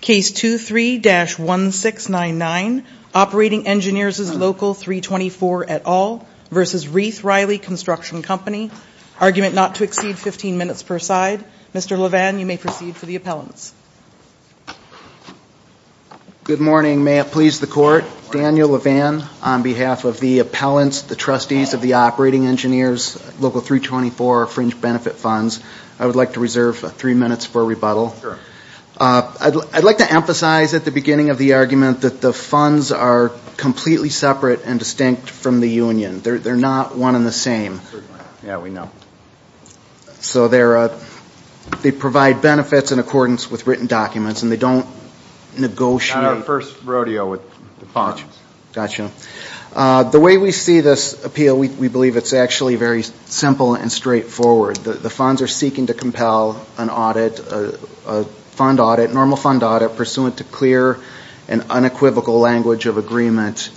Case 23-1699, Operating Engineers' Local 324 et al. v. RiethRiley Const Co Inc, argument not to exceed 15 minutes per side. Mr. LeVan, you may proceed for the appellants. Good morning. May it please the Court, Daniel LeVan on behalf of the appellants, the trustees of the Operating Engineers' Local 324 fringe benefit funds, I would like to reserve three minutes for rebuttal. I would like to emphasize at the beginning of the argument that the funds are completely separate and distinct from the union. They are not one and the same. So they provide benefits in accordance with written documents and they don't negotiate. Not our first rodeo with the funds. The way we see this appeal, we believe it is actually very simple and straightforward. The funds are seeking to compel an audit, a fund audit, normal fund audit, pursuant to clear and unequivocal language of agreement.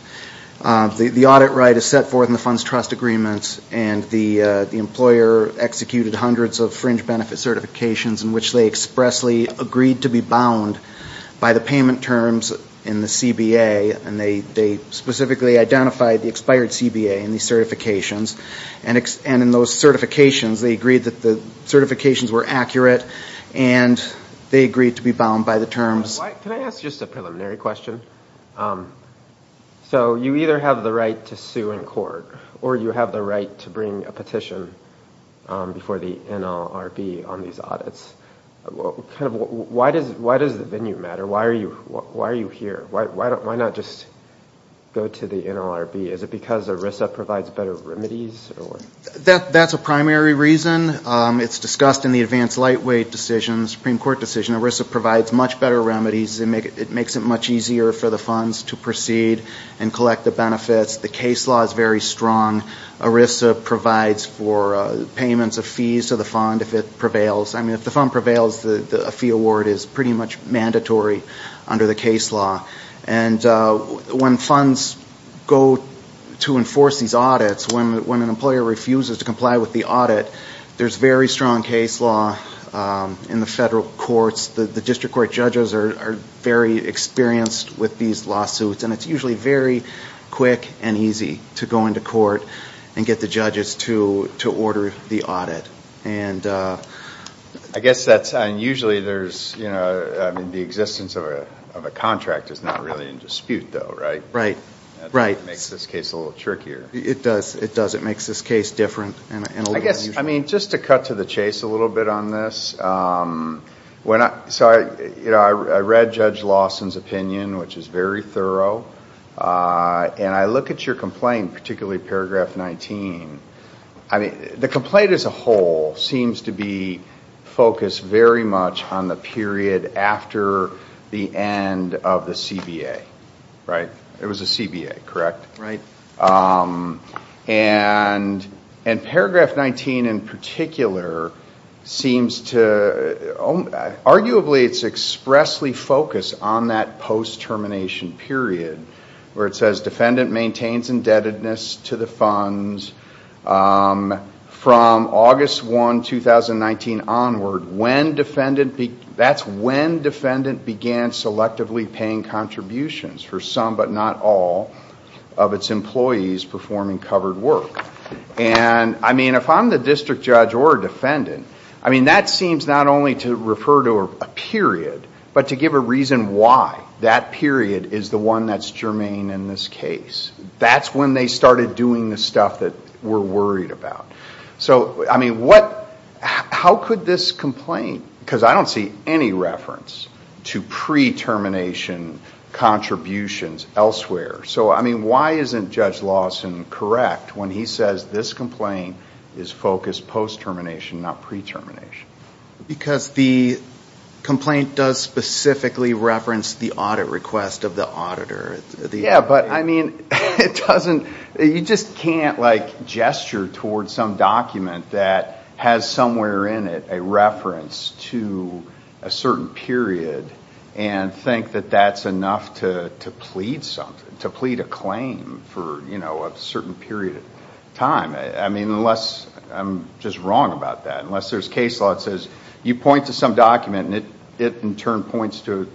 The audit right is set forth in the funds trust agreements and the employer executed hundreds of fringe benefit certifications in which they expressly agreed to be bound by the payment terms in the CBA and they specifically identified the expired CBA in the certifications and in those certifications they agreed that the certifications were accurate and they agreed to be bound by the terms. Can I ask just a preliminary question? So you either have the right to sue in court or you have the right to bring a petition before the NLRB on these audits. Why does the venue matter? Why are you here? Why not just go to the NLRB? Is it because ERISA provides better remedies? That is a primary reason. It is discussed in the advanced lightweight decision, the Supreme Court decision. ERISA provides much better remedies. It makes it much easier for the funds to proceed and collect the benefits. The case law is very strong. ERISA provides for payments of fees to the fund if it prevails. If the fund prevails, a fee award is pretty much mandatory under the case law. When funds go to enforce these audits, when an employer refuses to comply with the audit, there is very strong case law in the federal courts. The district court judges are very experienced with these lawsuits and it is usually very quick and easy to go into court and get the judges to order the audit. I guess that is unusual. The existence of a contract is not really in dispute though, right? Right. It makes this case a little trickier. It does. It makes this case different. Just to cut to the chase a little bit on this, I read Judge Lawson's opinion, which is very thorough, and I look at your complaint, particularly paragraph 19. The complaint as a whole seems to be focused very much on the period after the end of the CBA, right? It was a CBA, correct? Right. And paragraph 19 in particular seems to, arguably it is expressly focused on that post-termination period where it says defendant maintains indebtedness to the funds from August 1, 2019 onward. That is when defendant began selectively paying contributions for some, but not all, of its employees performing covered work. If I am the district judge or defendant, that seems not only to refer to a period, but to give a reason why that period is the one that is germane in this case. That is when they started doing the stuff that we are worried about. So, I mean, how could this complaint, because I don't see any reference to pre-termination contributions elsewhere. So I mean, why isn't Judge Lawson correct when he says this complaint is focused post-termination, not pre-termination? Because the complaint does specifically reference the audit request of the auditor. Yeah, but I mean, it doesn't, you just can't like gesture towards some document that has somewhere in it a reference to a certain period and think that that is enough to plead something, to plead a claim for a certain period of time. I mean, unless I am just wrong about that, unless there is case law that says you point to some document and it in turn points to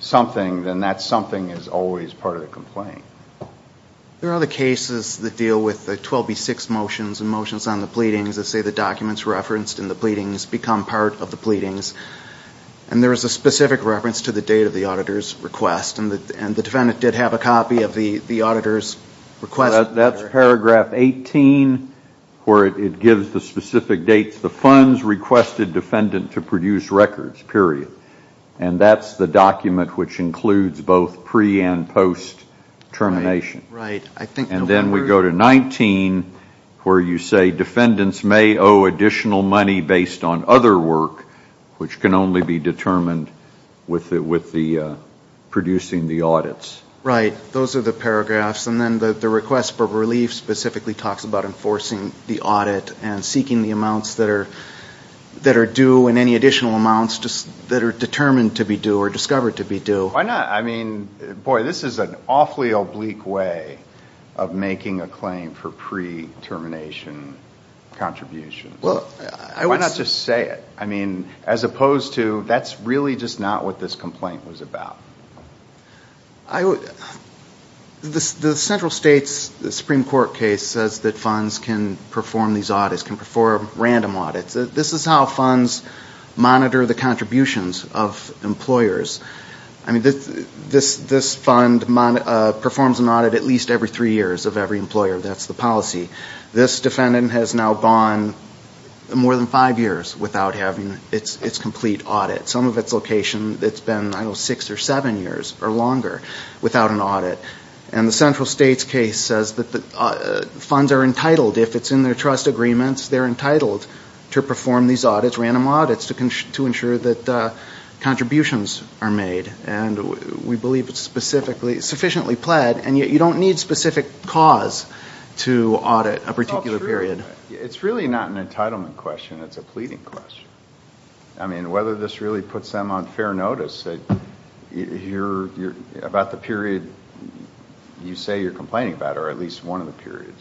something, then that something is always part of the complaint. There are other cases that deal with the 12B6 motions and motions on the pleadings that say the documents referenced in the pleadings become part of the pleadings, and there is a specific reference to the date of the auditor's request, and the defendant did have a copy of the auditor's request. That is paragraph 18, where it gives the specific dates, the funds requested defendant to produce records, period. And that is the document which includes both pre- and post-termination. Right, I think. And then we go to 19, where you say defendants may owe additional money based on other work, which can only be determined with the producing the audits. Right, those are the paragraphs. And then the request for relief specifically talks about enforcing the audit and seeking the amounts that are due and any additional amounts that are determined to be due or discovered to be due. Why not? I mean, boy, this is an awfully oblique way of making a claim for pre-termination contributions. Why not just say it? I mean, as opposed to that is really just not what this complaint was about. The central states, the Supreme Court case says that funds can perform these audits, can perform random audits. This is how funds monitor the contributions of employers. I mean, this fund performs an audit at least every three years of every employer. That's the policy. This defendant has now gone more than five years without having its complete audit. Some of its location, it's been, I don't know, six or seven years or longer without an audit. And the central states case says that the funds are entitled, if it's in their trust agreements, they're entitled to perform these audits, random audits, to ensure that contributions are made. And we believe it's sufficiently pled, and yet you don't need specific cause to audit a particular period. It's really not an entitlement question. It's a pleading question. I mean, whether this really puts them on fair notice, about the period you say you're complaining about, or at least one of the periods.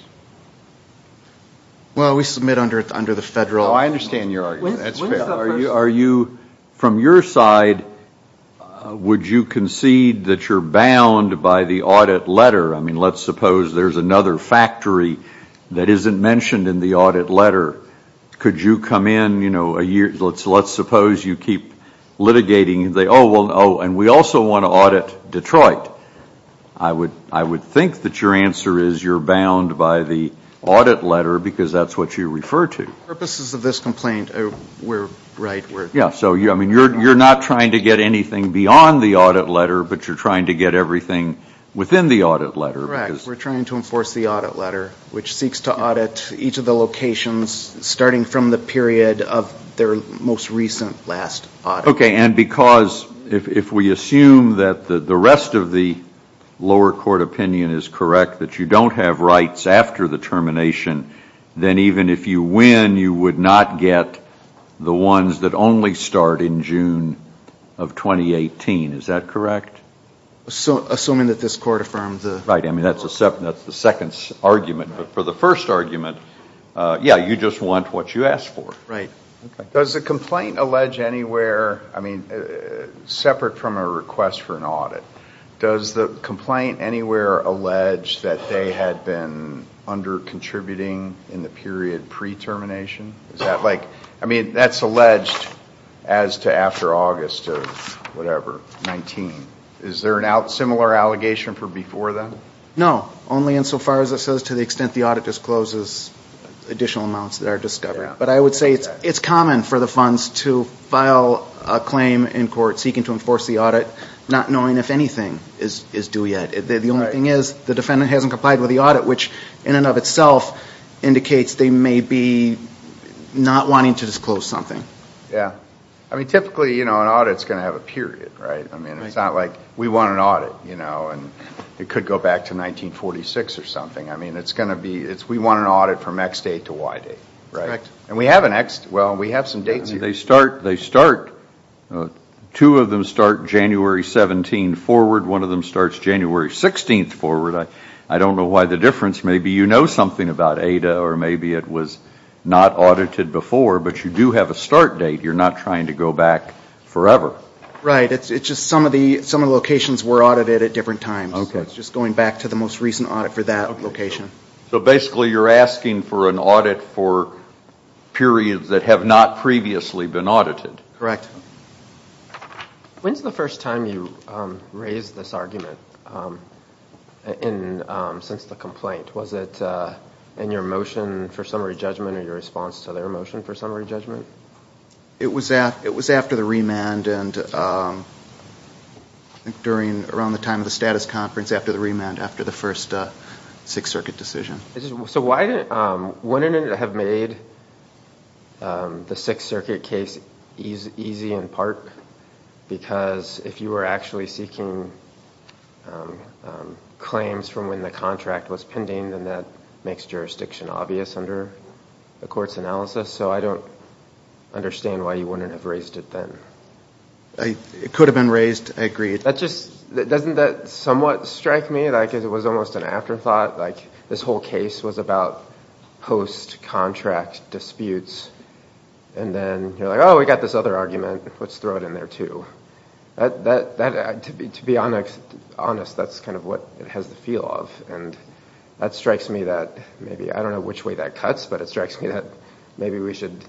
Well, we submit under the federal. No, I understand your argument. That's fair. Are you, from your side, would you concede that you're bound by the audit letter? I mean, let's suppose there's another factory that isn't mentioned in the audit letter. Could you come in, you know, a year, let's suppose you keep litigating. Oh, and we also want to audit Detroit. I would think that your answer is you're bound by the audit letter, because that's what you refer to. For purposes of this complaint, we're right. Yeah, so you're not trying to get anything beyond the audit letter, but you're trying to get everything within the audit letter. Correct. We're trying to enforce the audit letter, which seeks to audit each of the locations starting from the period of their most recent last audit. Okay, and because, if we assume that the rest of the lower court opinion is correct, that you don't have rights after the termination, then even if you win, you would not get the ones that only start in June of 2018. Is that correct? Assuming that this court affirmed the... Right, I mean, that's the second argument, but for the first argument, yeah, you just want what you asked for. Right. Does the complaint allege anywhere, I mean, separate from a request for an audit, does the complaint anywhere allege that they had been under-contributing in the period pre-termination? Is that like, I mean, that's alleged as to No, only insofar as it says to the extent the audit discloses additional amounts that are discovered. But I would say it's common for the funds to file a claim in court seeking to enforce the audit, not knowing if anything is due yet. The only thing is, the defendant hasn't complied with the audit, which in and of itself indicates they may be not wanting to disclose something. Yeah. I mean, typically, you know, an audit's going to have a period, right? I mean, it's not like, we want an audit, you know, and it could go back to 1946 or something. I mean, it's going to be, it's, we want an audit from X date to Y date, right? Correct. And we have an X, well, we have some dates here. They start, two of them start January 17 forward, one of them starts January 16 forward. I don't know why the difference. Maybe you know something about ADA or maybe it was not audited before, but you do have a start date. You're not trying to go back forever. Right. It's just some of the locations were audited at different times. Okay. It's just going back to the most recent audit for that location. So basically, you're asking for an audit for periods that have not previously been audited. Correct. When's the first time you raised this argument in, since the complaint? Was it in your motion for summary judgment or your response to their motion for summary judgment? It was after the remand and I think during, around the time of the status conference after the remand, after the first Sixth Circuit decision. So why didn't, wouldn't it have made the Sixth Circuit case easy in part because if you were actually seeking claims from when the contract was pending, then that makes jurisdiction obvious under the court's analysis. So I don't understand why you wouldn't have raised it then. It could have been raised. I agree. That just, doesn't that somewhat strike me like it was almost an afterthought, like this whole case was about post-contract disputes and then you're like, oh, we got this other argument. Let's throw it in there too. To be honest, that's kind of what it has the appeal of. And that strikes me that maybe, I don't know which way that cuts, but it strikes me that maybe we should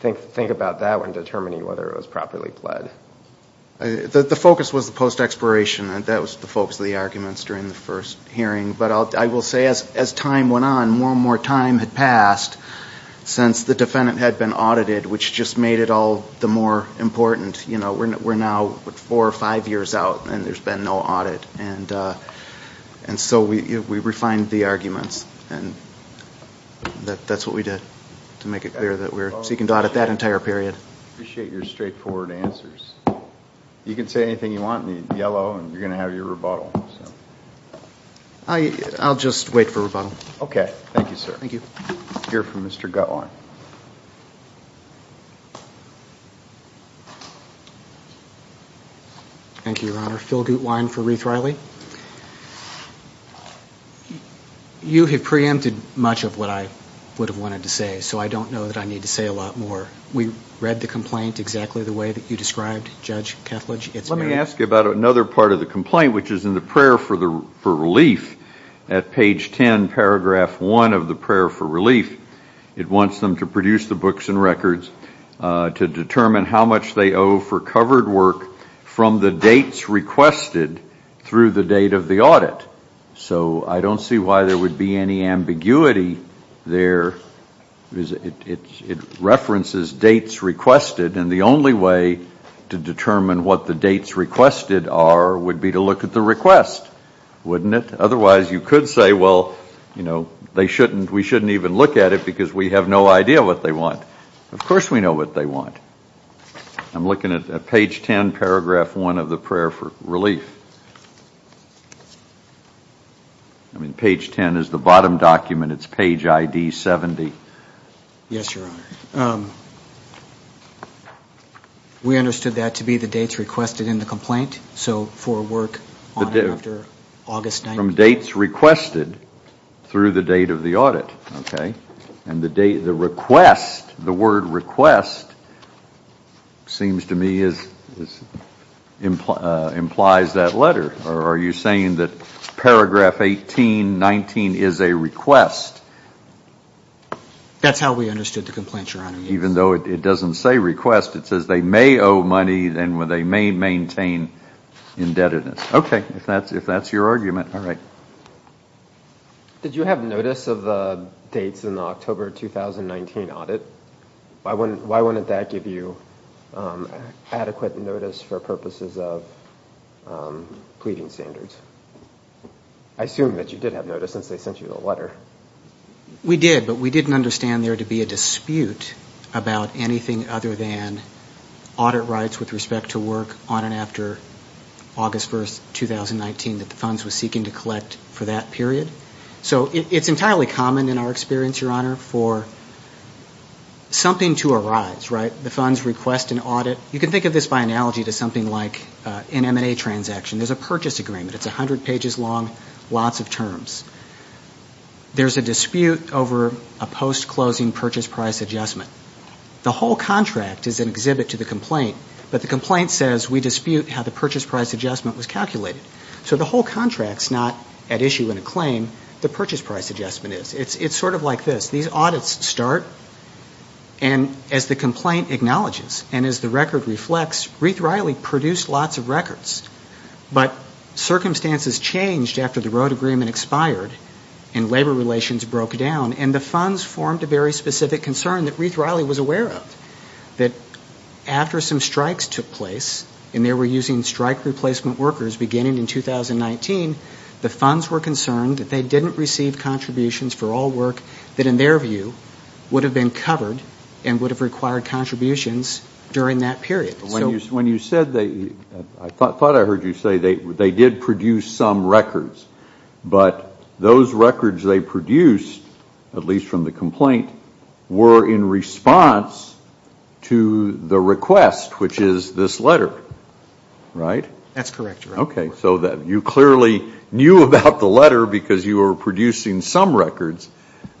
think about that when determining whether it was properly pled. The focus was the post-exploration. That was the focus of the arguments during the first hearing. But I will say as time went on, more and more time had passed since the defendant had been audited, which just made it all the more important. We're now four or five years out and there's been no audit. And so we refined the arguments and that's what we did to make it clear that we're seeking to audit that entire period. I appreciate your straightforward answers. You can say anything you want in yellow and you're going to have your rebuttal. I'll just wait for rebuttal. Okay. Thank you, sir. Thank you. We'll hear from Mr. Guttwein. Thank you, Your Honor. Phil Guttwein for Reith-Riley. You have preempted much of what I would have wanted to say, so I don't know that I need to say a lot more. We read the complaint exactly the way that you described, Judge Ketledge. Let me ask you about another part of the complaint, which is in the prayer for relief. At page 2 of the complaint, it says, I'm asking them to produce the books and records to determine how much they owe for covered work from the dates requested through the date of the audit. So I don't see why there would be any ambiguity there. It references dates requested, and the only way to determine what the dates requested are would be to look at the request, wouldn't it? Otherwise, you could say, well, you know, they shouldn't, we shouldn't even look at it because we have no idea what they want. Of course we know what they want. I'm looking at page 10, paragraph 1 of the prayer for relief. I mean, page 10 is the bottom document, it's page ID 70. Yes, Your Honor. We understood that to be the dates requested in the complaint, so for work on it after August 9th. From dates requested through the date of the audit, okay? And the request, the word request, seems to me, implies that letter. Are you saying that paragraph 18, 19 is a request? That's how we understood the complaint, Your Honor. Even though it doesn't say request, it says they may owe money and they may maintain indebtedness. Okay, if that's your argument. All right. Did you have notice of the dates in the October 2019 audit? Why wouldn't that give you adequate notice for purposes of pleading standards? I assume that you did have notice since they sent you the letter. We did, but we didn't understand there to be a dispute about anything other than audit rights with respect to work on and after August 1st, 2019 that the funds were seeking to collect for that period. So it's entirely common in our experience, Your Honor, for something to arise, right? The funds request an audit. You can think of this by analogy to something like an M&A transaction. There's a purchase agreement. It's 100 pages long, lots of terms. There's a dispute over a post-closing purchase price adjustment. The whole contract is an exhibit to the complaint, but the complaint says we dispute how the purchase price adjustment was calculated. So the whole contract's not at issue in a claim. The purchase price adjustment is. It's sort of like this. These audits start and as the complaint acknowledges and as the record reflects, Reeth-Riley produced lots of records, but circumstances changed after the road agreement expired and labor relations broke down and the funds formed a very specific concern that Reeth-Riley was aware of, that after some strikes took place and they were using strike replacement workers beginning in 2019, the funds were concerned that they didn't receive contributions for all work that in their view would have been covered and would have required contributions during that period. When you said they, I thought I heard you say they did produce some records, but those records they produced, at least from the complaint, were in response to the request, which is this letter, right? That's correct, Your Honor. Okay. So you clearly knew about the letter because you were producing some records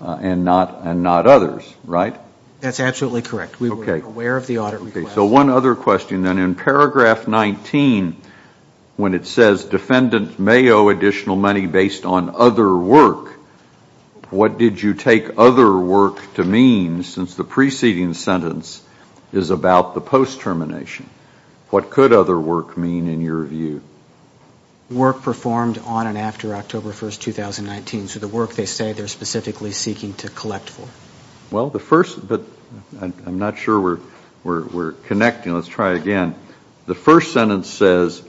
and not others, right? That's absolutely correct. We were aware of the audit request. So one other question then. In paragraph 19, when it says defendants may owe additional money based on other work, what did you take other work to mean since the preceding sentence is about the post-termination? What could other work mean in your view? Work performed on and after October 1, 2019. So the work they say they're specifically seeking to collect for. Well, the first, but I'm not sure we're connecting. Let's try again. The first sentence says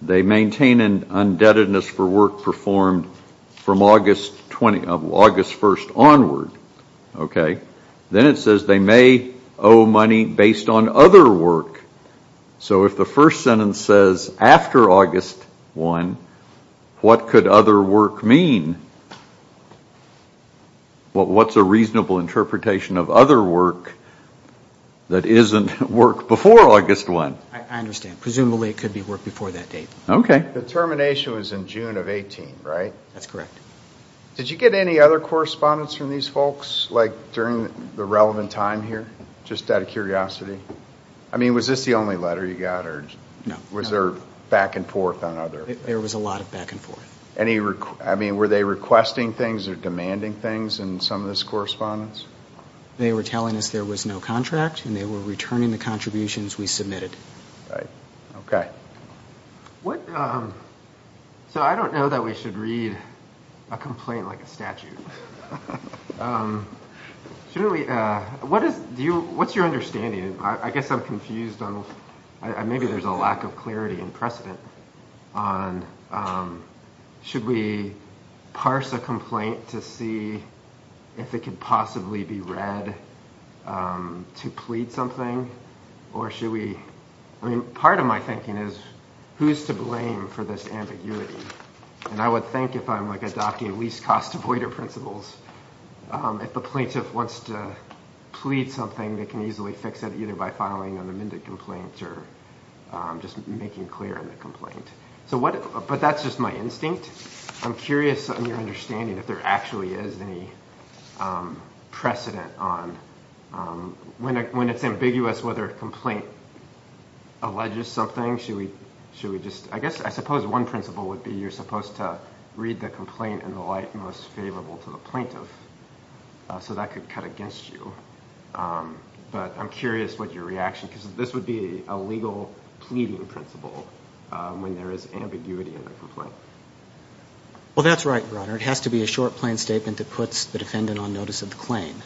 they maintain an indebtedness for work performed from August 1st onward. Okay. Then it says they may owe money based on other work. So if the first sentence says after August 1, what could other work mean? What's a reasonable interpretation of other work that isn't work before August 1? I understand. Presumably it could be work before that date. Okay. The termination was in June of 18, right? That's correct. Did you get any other correspondence from these folks during the relevant time here just out of curiosity? I mean, was this the only letter you got or was there back and forth on other? There was a lot of back and forth. Were they requesting things or demanding things in some of this correspondence? They were telling us there was no contract and they were returning the contributions we submitted. Right. Okay. So I don't know that we should read a complaint like a statute. What's your understanding? I guess I'm confused. Maybe there's a lack of clarity and precedent on should we parse a complaint to see if it could possibly be read to plead something or should we read a complaint. I mean, part of my thinking is who's to blame for this ambiguity? And I would think if I'm like adopting least cost avoider principles, if the plaintiff wants to plead something they can easily fix it either by filing an amended complaint or just making clear in the complaint. But that's just my instinct. I'm curious on your understanding if there actually is any precedent on when it's ambiguous whether a complaint alleges something, should we just I guess I suppose one principle would be you're supposed to read the complaint in the light most favorable to the plaintiff so that could cut against you. But I'm curious what your reaction is. This would be a legal pleading principle when there is ambiguity in the complaint. Well that's right, Your Honor. It has to be a short plain statement that puts the defendant on notice of the claim.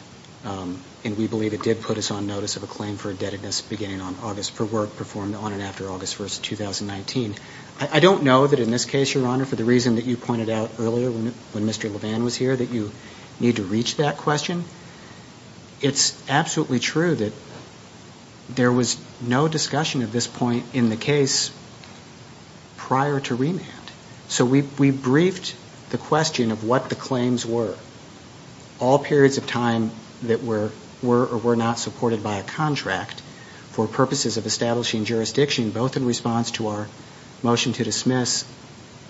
And we believe it did put us on notice of a claim for indebtedness beginning on August for work performed on and after August 1st, 2019. I don't know that in this case, Your Honor, for the reason that you pointed out earlier when Mr. Levan was here that you need to reach that question. It's absolutely true that there was no discussion at this point in the case prior to remand. So we briefed the question of what the claims were, all periods of time that were or were not supported by a contract for purposes of establishing jurisdiction both in response to our motion to dismiss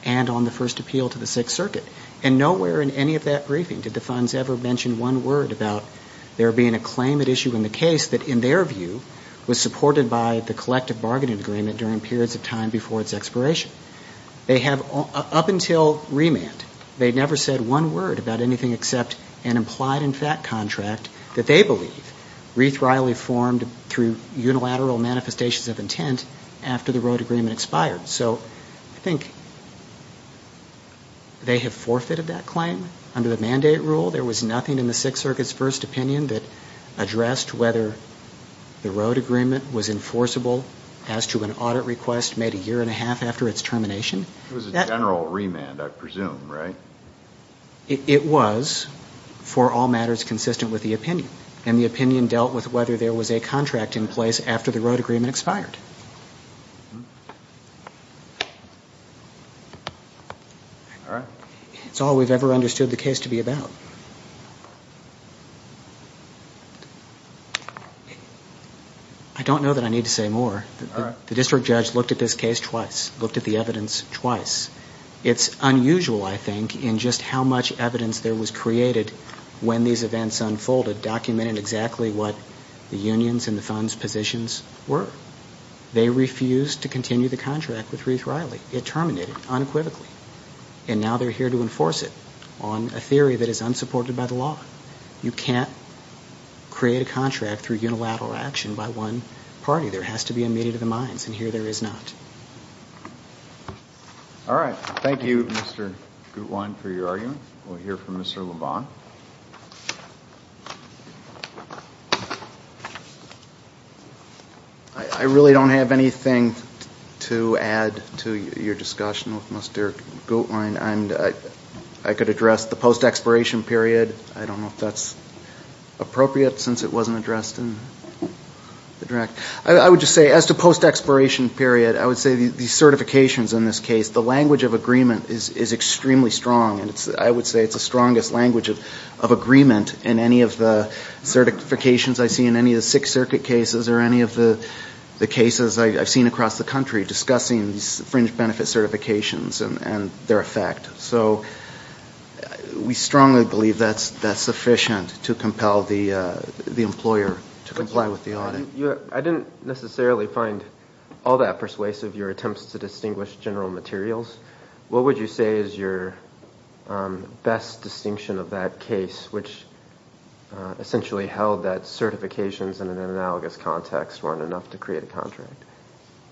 and on the first appeal to the Sixth Circuit. And nowhere in any of that briefing did the funds ever mention one word about there being a claim at issue in the case that in their view was supported by the collective bargaining agreement during periods of time before its expiration. They never said one word about anything except an implied in fact contract that they believe wreath-wryly formed through unilateral manifestations of intent after the road agreement expired. So I think they have forfeited that claim under the mandate rule. There was nothing in the Sixth Circuit's first opinion that addressed whether the road agreement was enforceable as to an audit request made a year and a half after its termination. It was a general remand, I presume, right? It was for all matters consistent with the opinion. And the opinion dealt with whether there was a contract in place after the road agreement expired. All right. It's all we've ever understood the case to be about. I don't know that I need to say more. All right. The district judge looked at this case twice, looked at the evidence twice. It's unusual, I think, in just how much evidence there was created when these events unfolded, documented exactly what the union's and the fund's positions were. They refused to continue the contract with wreath-wryly. It terminated unequivocally. And now they're here to enforce it on a theory that is unsupported by the law. You can't create a contract through unilateral action by one party. There has to be a meeting of the minds. And here there is not. All right. Thank you, Mr. Gutwein, for your argument. We'll hear from Mr. Lebon. I really don't have anything to add to your discussion with Mr. Gutwein. And I could address the post-expiration period. I don't know if that's appropriate since it wasn't addressed in the draft. I would just say, as to post-expiration period, I would say the certifications in this case, the language of agreement is extremely strong. And I would say it's the strongest language of agreement in any of the certifications I see in any of the Sixth Circuit cases or any of the cases I've seen across the country discussing these fringe benefit certifications and their effect. So we strongly believe that's sufficient to compel the employer to make a decision to comply with the audit. I didn't necessarily find all that persuasive, your attempts to distinguish general materials. What would you say is your best distinction of that case, which essentially held that certifications in an analogous context weren't enough to create a contract?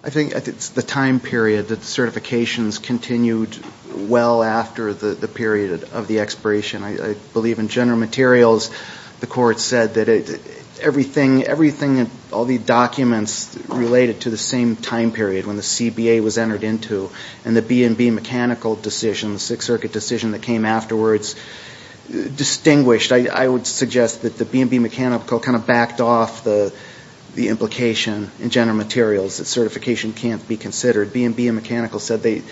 I think it's the time period that certifications continued well after the period of the expiration. I believe in general materials, the court said that everything, all the documents related to the same time period when the CBA was entered into and the B&B Mechanical decision, the Sixth Circuit decision that came afterwards distinguished. I would suggest that the B&B Mechanical kind of backed off the implication in general materials that certification can't be considered. B&B Mechanical said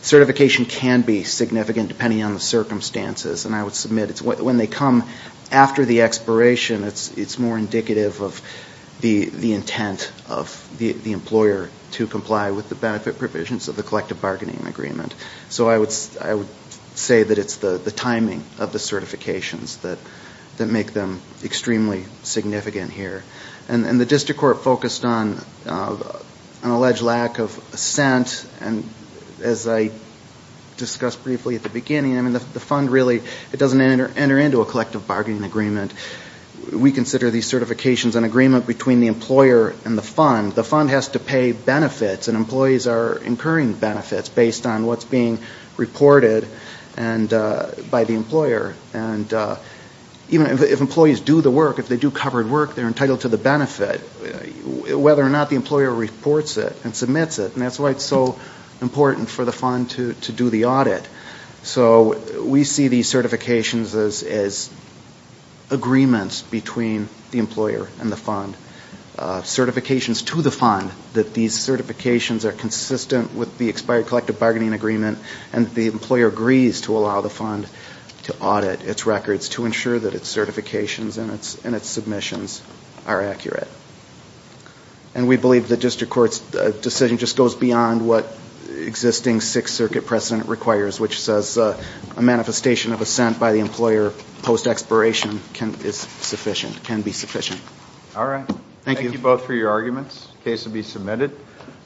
certification can be significant depending on the circumstances. And I would submit it's when they come after the expiration, it's more indicative of the intent of the employer to comply with the benefit provisions of the collective bargaining agreement. So I would say that it's the timing of the certifications that make them extremely significant here. And the district court focused on an alleged lack of assent. And as I discussed briefly at the beginning, I mean, the fund really, it doesn't enter into a collective bargaining agreement. We consider these certifications an agreement between the employer and the fund. The fund has to pay benefits and employees are incurring benefits based on what's being reported by the employer. And even if employees do the work, if they do covered work, they're entitled to the benefit whether or not the employer reports it and submits it. And that's why it's so important for the fund to do the audit. So we see these certifications as agreements between the employer and the fund. Certifications to the fund, that these certifications are consistent with the expired collective bargaining agreement and the employer agrees to allow the fund to audit its records to ensure that its certifications and its submissions are accurate. And we believe the district court's decision just goes beyond what existing Sixth Circuit precedent requires, which says a manifestation of assent by the employer post-expiration is sufficient, can be sufficient. All right. Thank you both for your arguments. The case will be submitted.